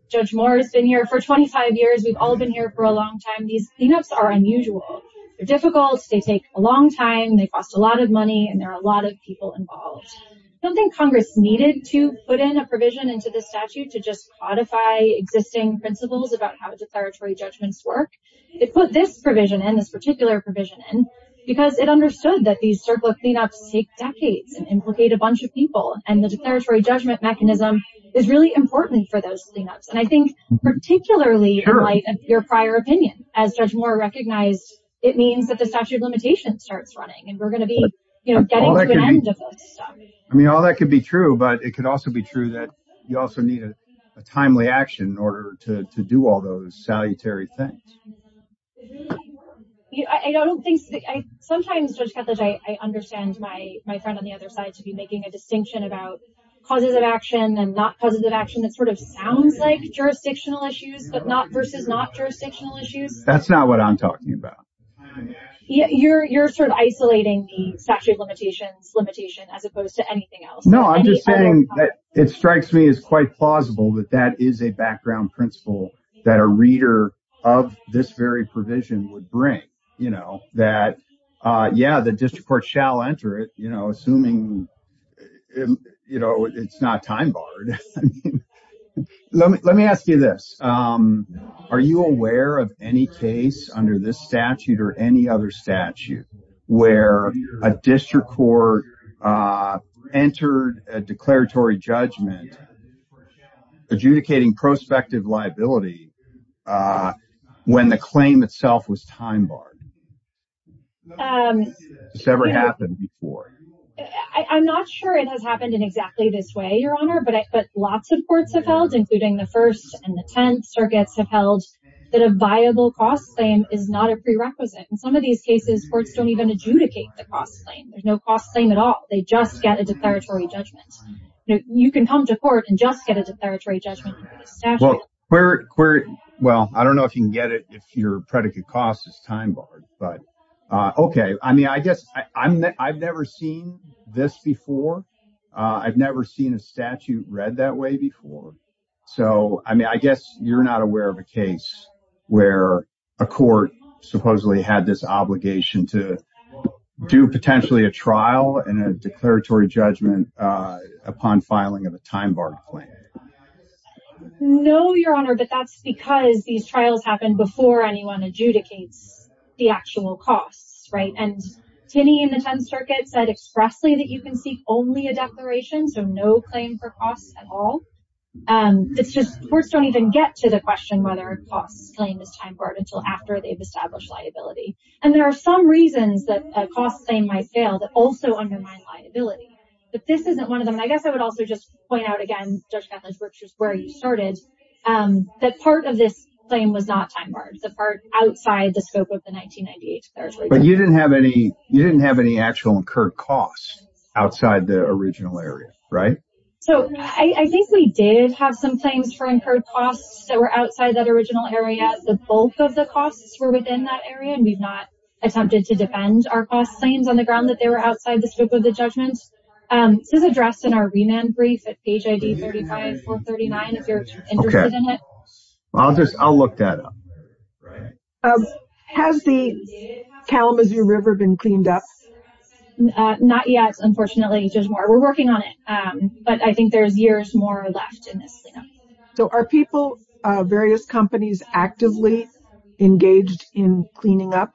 Judge Moore has been here for 25 years. We've all been here for a long time. These cleanups are unusual. They're difficult, they take a long time, they cost a lot of money, and there are a lot of people involved. I don't think Congress needed to put in a provision into this statute to just codify existing principles about how declaratory judgments work. They put this provision in, this particular provision in, because it understood that these circular cleanups take decades and implicate a bunch of people, and the declaratory judgment mechanism is really important for those cleanups. And I think particularly in light of your prior opinion, as Judge Moore recognized, it means that the statute of limitations starts running and we're going to be getting to an end of this stuff. I mean, all that could be true, but it could also be true that you also need a timely action in order to do all those salutary things. Sometimes, Judge Ketledge, I understand my friend on the other side to be making a distinction about causes of action and not causes of action that sort of sounds like jurisdictional issues, but not versus not jurisdictional issues. That's not what I'm talking about. You're sort of isolating the statute of limitations limitation as opposed to anything else. No, I'm just saying that it strikes me as quite plausible that that is a background principle that a reader of this very provision would bring. That, yeah, the district court shall enter it, assuming it's not time-barred. Let me ask you this. Are you aware of any case under this statute or any other statute where a district court entered a declaratory judgment adjudicating prospective liability when the claim itself was time-barred? Has this ever happened before? I'm not sure it has happened in exactly this way, Your Honor, but lots of courts have held, including the First and the Tenth Circuits have held that a viable cost claim is not a prerequisite. In some of these cases, courts don't even adjudicate the cost claim. There's no cost claim at all. They just get a declaratory judgment. You can come to court and just get a declaratory judgment under this statute. Well, I don't know if you can get it if your predicate cost is time-barred, but okay. I mean, I guess I've never seen this before. I've never seen a statute read that way before. So, I mean, I guess you're not aware of a case where a court supposedly had this obligation to do potentially a trial and a declaratory judgment upon filing of a time-barred claim. No, Your Honor, but that's because these trials happen before anyone adjudicates the actual costs, right? And Tinney in the Tenth Circuit said expressly that you can seek only a declaration, so no claim for costs at all. It's just courts don't even get to the question whether a cost claim is time-barred until after they've established liability. And there are some reasons that a cost claim might fail that also undermine liability. But this isn't one of them. And I guess I would also just point out again, Judge Gatlins, which is where you started, that part of this claim was not time-barred, the part outside the scope of the 1998 declaration. But you didn't have any actual incurred costs outside the original area, right? So, I think we did have some claims for incurred costs that were outside that original area. The bulk of the costs were within that area, and we've not attempted to defend our cost claims on the ground that they were outside the scope of the judgment. This is addressed in our remand brief at page ID 35 or 39 if you're interested in it. Okay. I'll look that up. Has the Kalamazoo River been cleaned up? Not yet, unfortunately. There's more. We're working on it. But I think there's years more left in this cleanup. So, are people, various companies, actively engaged in cleaning up?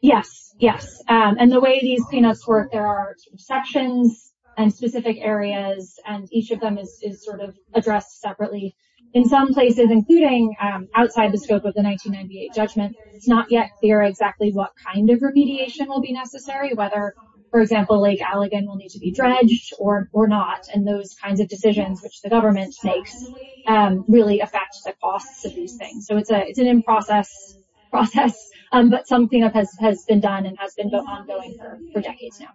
Yes, yes. And the way these cleanups work, there are sections and specific areas, and each of them is sort of addressed separately. In some places, including outside the scope of the 1998 judgment, it's not yet clear exactly what kind of remediation will be necessary, whether, for example, Lake Allegan will need to be dredged or not, and those kinds of decisions which the government makes really affect the costs of these things. So, it's an in-process process, but some cleanup has been done and has been ongoing for decades now.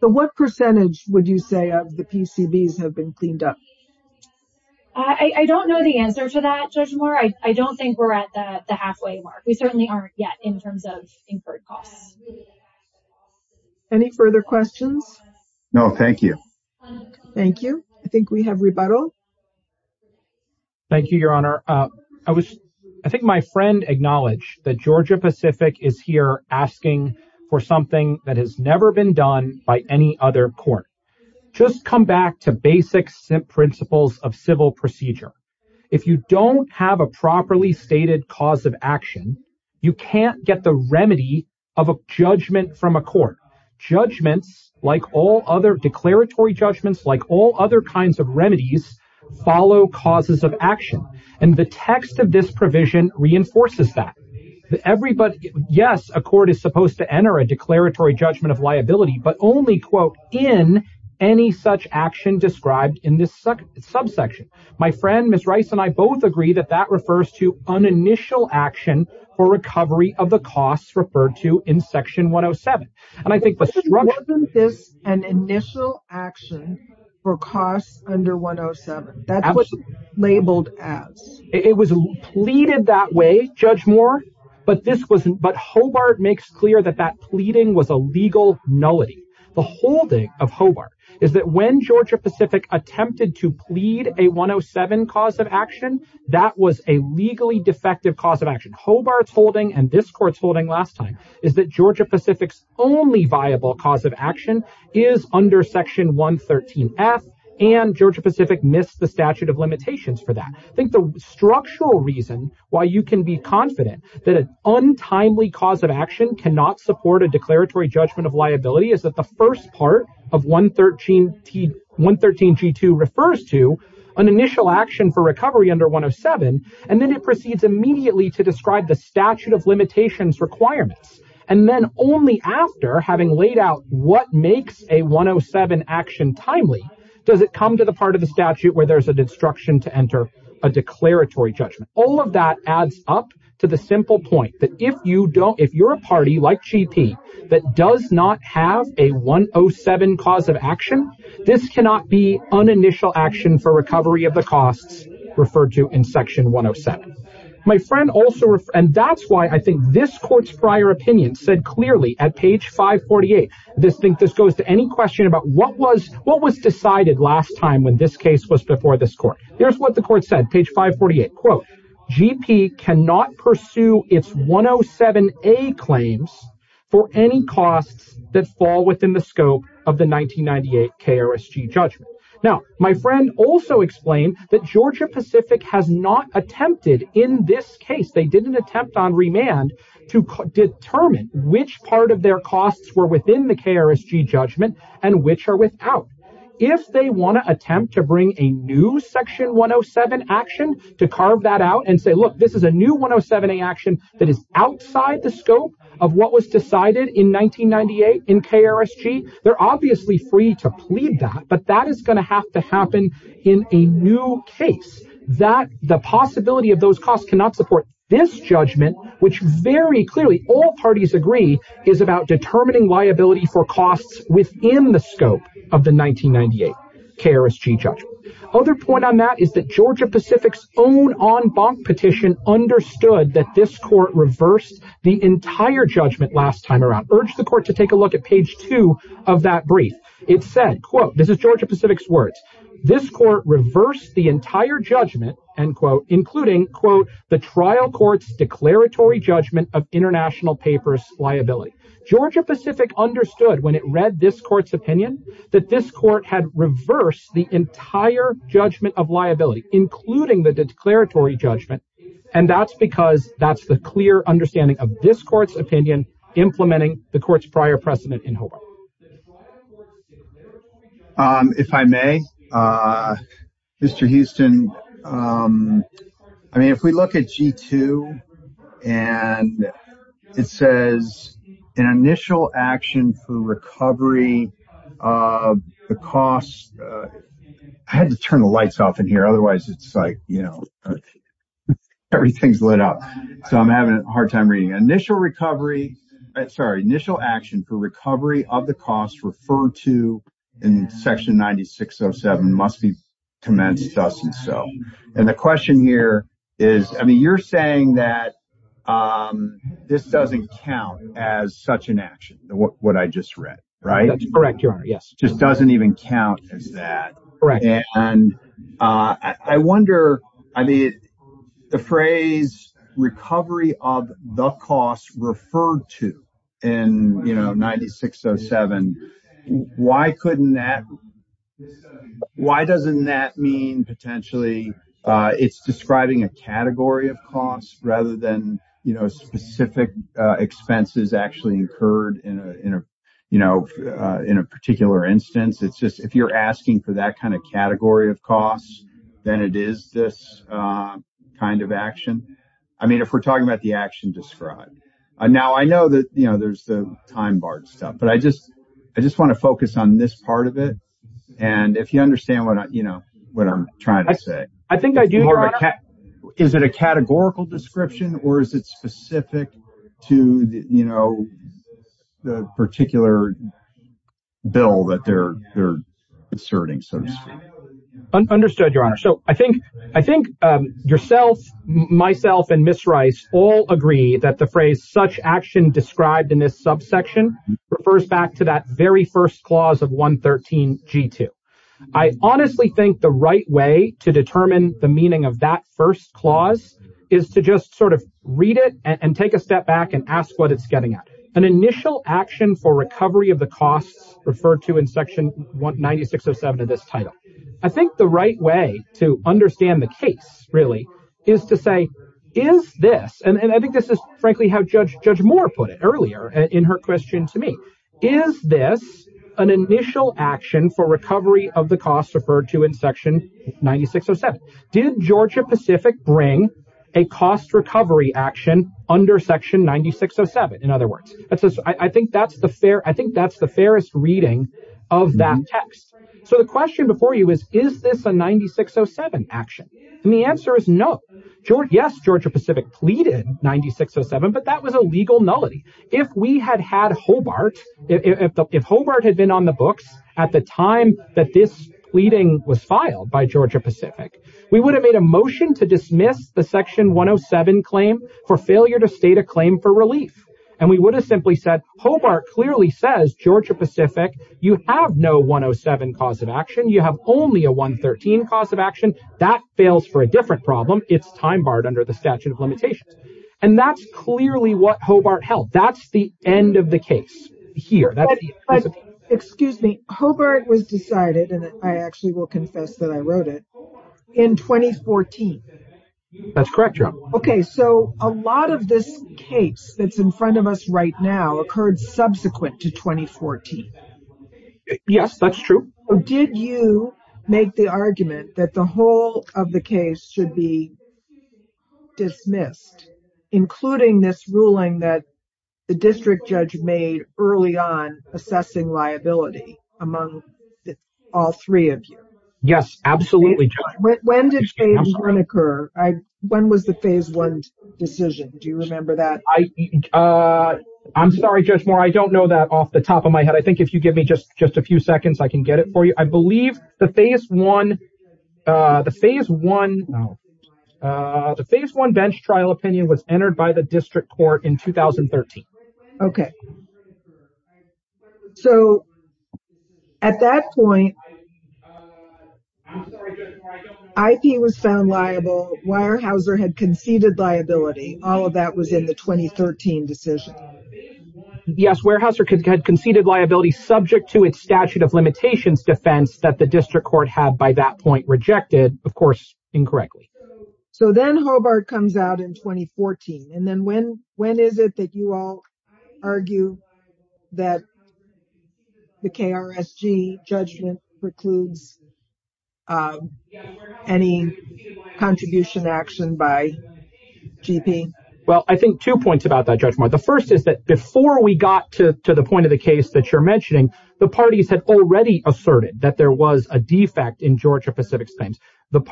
So, what percentage would you say of the PCBs have been cleaned up? I don't know the answer to that, Judge Moore. I don't think we're at the halfway mark. We certainly aren't yet in terms of incurred costs. Any further questions? No, thank you. Thank you. I think we have rebuttal. Thank you, Your Honor. I think my friend acknowledged that Georgia Pacific is here asking for something that has never been done by any other court. Just come back to basic principles of civil procedure. If you don't have a properly stated cause of action, you can't get the remedy of a judgment from a court. Judgments, like all other declaratory judgments, like all other kinds of remedies, follow causes of action. And the text of this provision reinforces that. Yes, a court is supposed to enter a declaratory judgment of liability, but only, quote, in any such action described in this subsection. My friend, Ms. Rice, and I both agree that that refers to an initial action for recovery of the costs referred to in Section 107. Wasn't this an initial action for costs under 107? That's what it's labeled as. It was pleaded that way, Judge Moore, but Hobart makes clear that that pleading was a legal nullity. The holding of Hobart is that when Georgia Pacific attempted to plead a 107 cause of action, that was a legally defective cause of action. Hobart's holding and this court's holding last time is that Georgia Pacific's only viable cause of action is under Section 113F, and Georgia Pacific missed the statute of limitations for that. I think the structural reason why you can be confident that an untimely cause of action cannot support a declaratory judgment of liability is that the first part of 113G2 refers to an initial action for recovery under 107, and then it proceeds immediately to describe the statute of limitations requirements. And then only after having laid out what makes a 107 action timely does it come to the part of the statute where there's a destruction to enter a declaratory judgment. All of that adds up to the simple point that if you're a party like GP that does not have a 107 cause of action, this cannot be an initial action for recovery of the costs referred to in Section 107. And that's why I think this court's prior opinion said clearly at page 548, this goes to any question about what was decided last time when this case was before this court. Here's what the court said, page 548, quote, GP cannot pursue its 107A claims for any costs that fall within the scope of the 1998 KRSG judgment. Now, my friend also explained that Georgia Pacific has not attempted in this case, they didn't attempt on remand to determine which part of their costs were within the KRSG judgment and which are without. If they want to attempt to bring a new Section 107 action to carve that out and say, look, this is a new 107A action that is outside the scope of what was decided in 1998 in KRSG, they're obviously free to plead that, but that is going to have to happen if there's no case that the possibility of those costs cannot support this judgment, which very clearly all parties agree is about determining liability for costs within the scope of the 1998 KRSG judgment. Other point on that is that Georgia Pacific's own en banc petition understood that this court reversed the entire judgment last time around. Urge the court to take a look at page 2 of that brief. It said, quote, this is Georgia Pacific's words, this court reversed the entire judgment, end quote, including, quote, the trial court's declaratory judgment of international papers liability. Georgia Pacific understood when it read this court's opinion that this court had reversed the entire judgment of liability, including the declaratory judgment, and that's because that's the clear understanding of this court's opinion implementing the court's prior precedent in Hobart. If I may, Mr. Houston, I mean, if we look at G2, and it says an initial action for recovery of the cost, I had to turn the lights off in here, otherwise it's like, you know, everything's lit up, so I'm having a hard time reading. Initial recovery, sorry, initial action for recovery of the cost referred to in section 9607 must be commenced thus and so. And the question here is, I mean, you're saying that this doesn't count as such an action, what I just read, right? That's correct, your honor, yes. Just doesn't even count as that. Correct. And I wonder, I mean, the phrase recovery of the cost referred to in, you know, 9607, why couldn't that, why doesn't that mean potentially it's describing a category of costs rather than, you know, specific expenses actually incurred in a, you know, in a particular instance. It's just, if you're asking for that kind of category of costs, then it is this kind of action. I mean, if we're talking about the action described. Now I know that, you know, there's the time bar stuff, but I just want to focus on this part of it. And if you understand what, you know, what I'm trying to say. I think I do, your honor. Is it a categorical description or is it specific to, you know, the particular bill that they're asserting, so to speak? Understood, your honor. So I think yourself, myself, and Ms. Rice all agree that the phrase such action described in this subsection refers back to that very first clause of 113 G2. I honestly think the right way to determine the meaning of that first clause is to just sort of read it and take a step back and ask what it's getting at. An initial action for recovery of the costs referred to in section 9607 of this title. I think the right way to understand the case really is to say, is this, and I think this is frankly how Judge Moore put it earlier in her question to me. Is this an initial action for recovery of the costs referred to in section 9607? Did Georgia Pacific bring a cost recovery action under section 9607? In other words, I think that's the fair, I think that's the fairest reading of that text. So the question before you is, is this a 9607 action? And the answer is no. Yes, Georgia Pacific pleaded 9607, but that was a legal nullity. If we had had Hobart, if Hobart had been on the books at the time that this pleading was filed by Georgia Pacific, we would have made a motion to dismiss the section 107 claim for failure to state a claim for relief. And we would have simply said, Hobart clearly says, Georgia Pacific, you have no 107 cause of action. You have only a 113 cause of action. If Hobart fails for a different problem, it's time barred under the statute of limitations. And that's clearly what Hobart held. That's the end of the case here. Excuse me. Hobart was decided, and I actually will confess that I wrote it, in 2014. That's correct, Jo. Okay, so a lot of this case that's in front of us right now occurred subsequent to 2014. Yes, that's true. Did you make the argument that the whole of the case should be dismissed, including this ruling that the district judge made early on assessing liability among all three of you? Yes, absolutely. When did phase one occur? When was the phase one decision? Do you remember that? I'm sorry, Judge Moore. I don't know that off the top of my head. I think if you give me just a few seconds, I can get it for you. The phase one... No. The phase one bench trial opinion was entered by the district court in 2013. So, at that point, I'm sorry, Judge Moore. IP was found liable. Weyerhaeuser had conceded liability. All of that was in the 2013 decision. Yes, Weyerhaeuser had conceded liability subject to its statute of limitations defense that the district court had, by that point, rejected, of course, incorrectly. So then Hobart comes out in 2014. And then when is it that you all argue that the KRSG judgment precludes any contribution action by GP? Well, I think two points about that, Judge Moore. The first is that before we got to the point of the case that you're mentioning, the parties had already asserted that there was a defect in Georgia-Pacific claims. The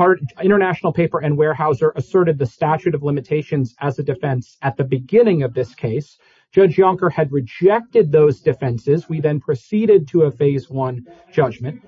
international paper and Weyerhaeuser asserted the statute of limitations as a defense at the beginning of this case. Judge Yonker had rejected those defenses. We then proceeded to a phase one judgment.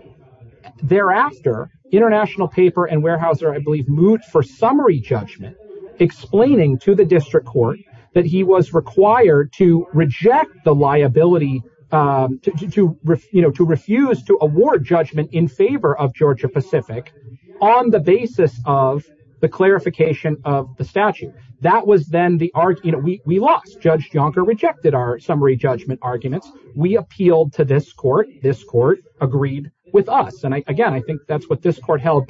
Thereafter, international paper and Weyerhaeuser, I believe, moved for summary judgment, explaining to the district court that he was required to reject the liability, to refuse to award judgment in favor of Georgia-Pacific on the basis of the clarification of the statute. That was then the argument. We lost. Judge Yonker rejected our summary judgment arguments. We appealed to this court. This court agreed with us. And again, I think that's what this court held.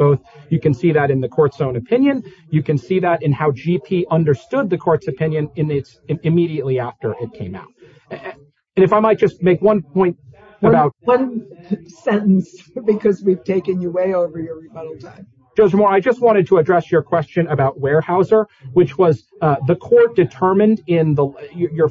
You can see that in the court's own opinion. You can see that in how GP understood the court's opinion immediately after it came out. And if I might just make one point about... Because we've taken you way over your rebuttal time. Judge Moore, I just wanted to address your question about Weyerhaeuser, which was the court determined in your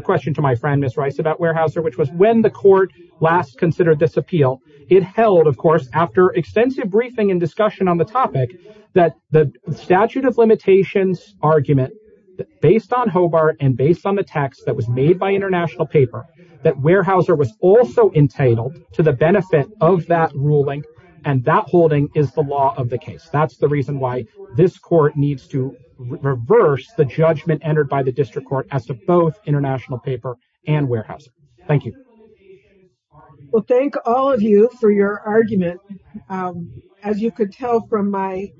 question to my friend, Ms. Rice, about Weyerhaeuser, which was when the court last considered this appeal, it held, of course, after extensive briefing and discussion on the topic, that the statute of limitations argument, based on Hobart and based on the text that was made by international paper, that Weyerhaeuser was also entitled to the benefit of that ruling, and that holding is the law of the case. That's the reason why this court needs to reverse the judgment entered by the district court as to both international paper and Weyerhaeuser. Thank you. Well, thank all of you for your argument. As you could tell from my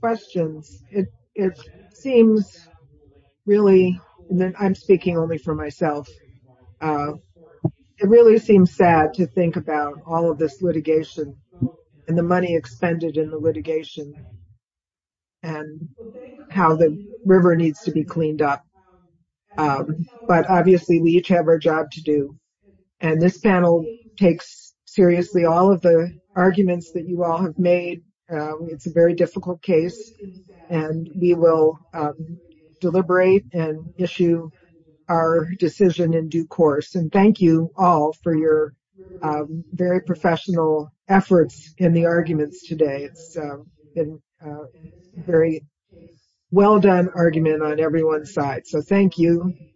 questions, it seems really... I'm speaking only for myself. It really seems sad to think about all of this litigation and the money expended in the litigation and how the river needs to be cleaned up. But obviously, we each have our job to do. And this panel takes seriously all of the arguments that you all have made. It's a very difficult case, and we will deliberate and issue our decision in due course. And thank you all for your very professional efforts in the arguments today. It's a very well-done argument on everyone's side. So thank you.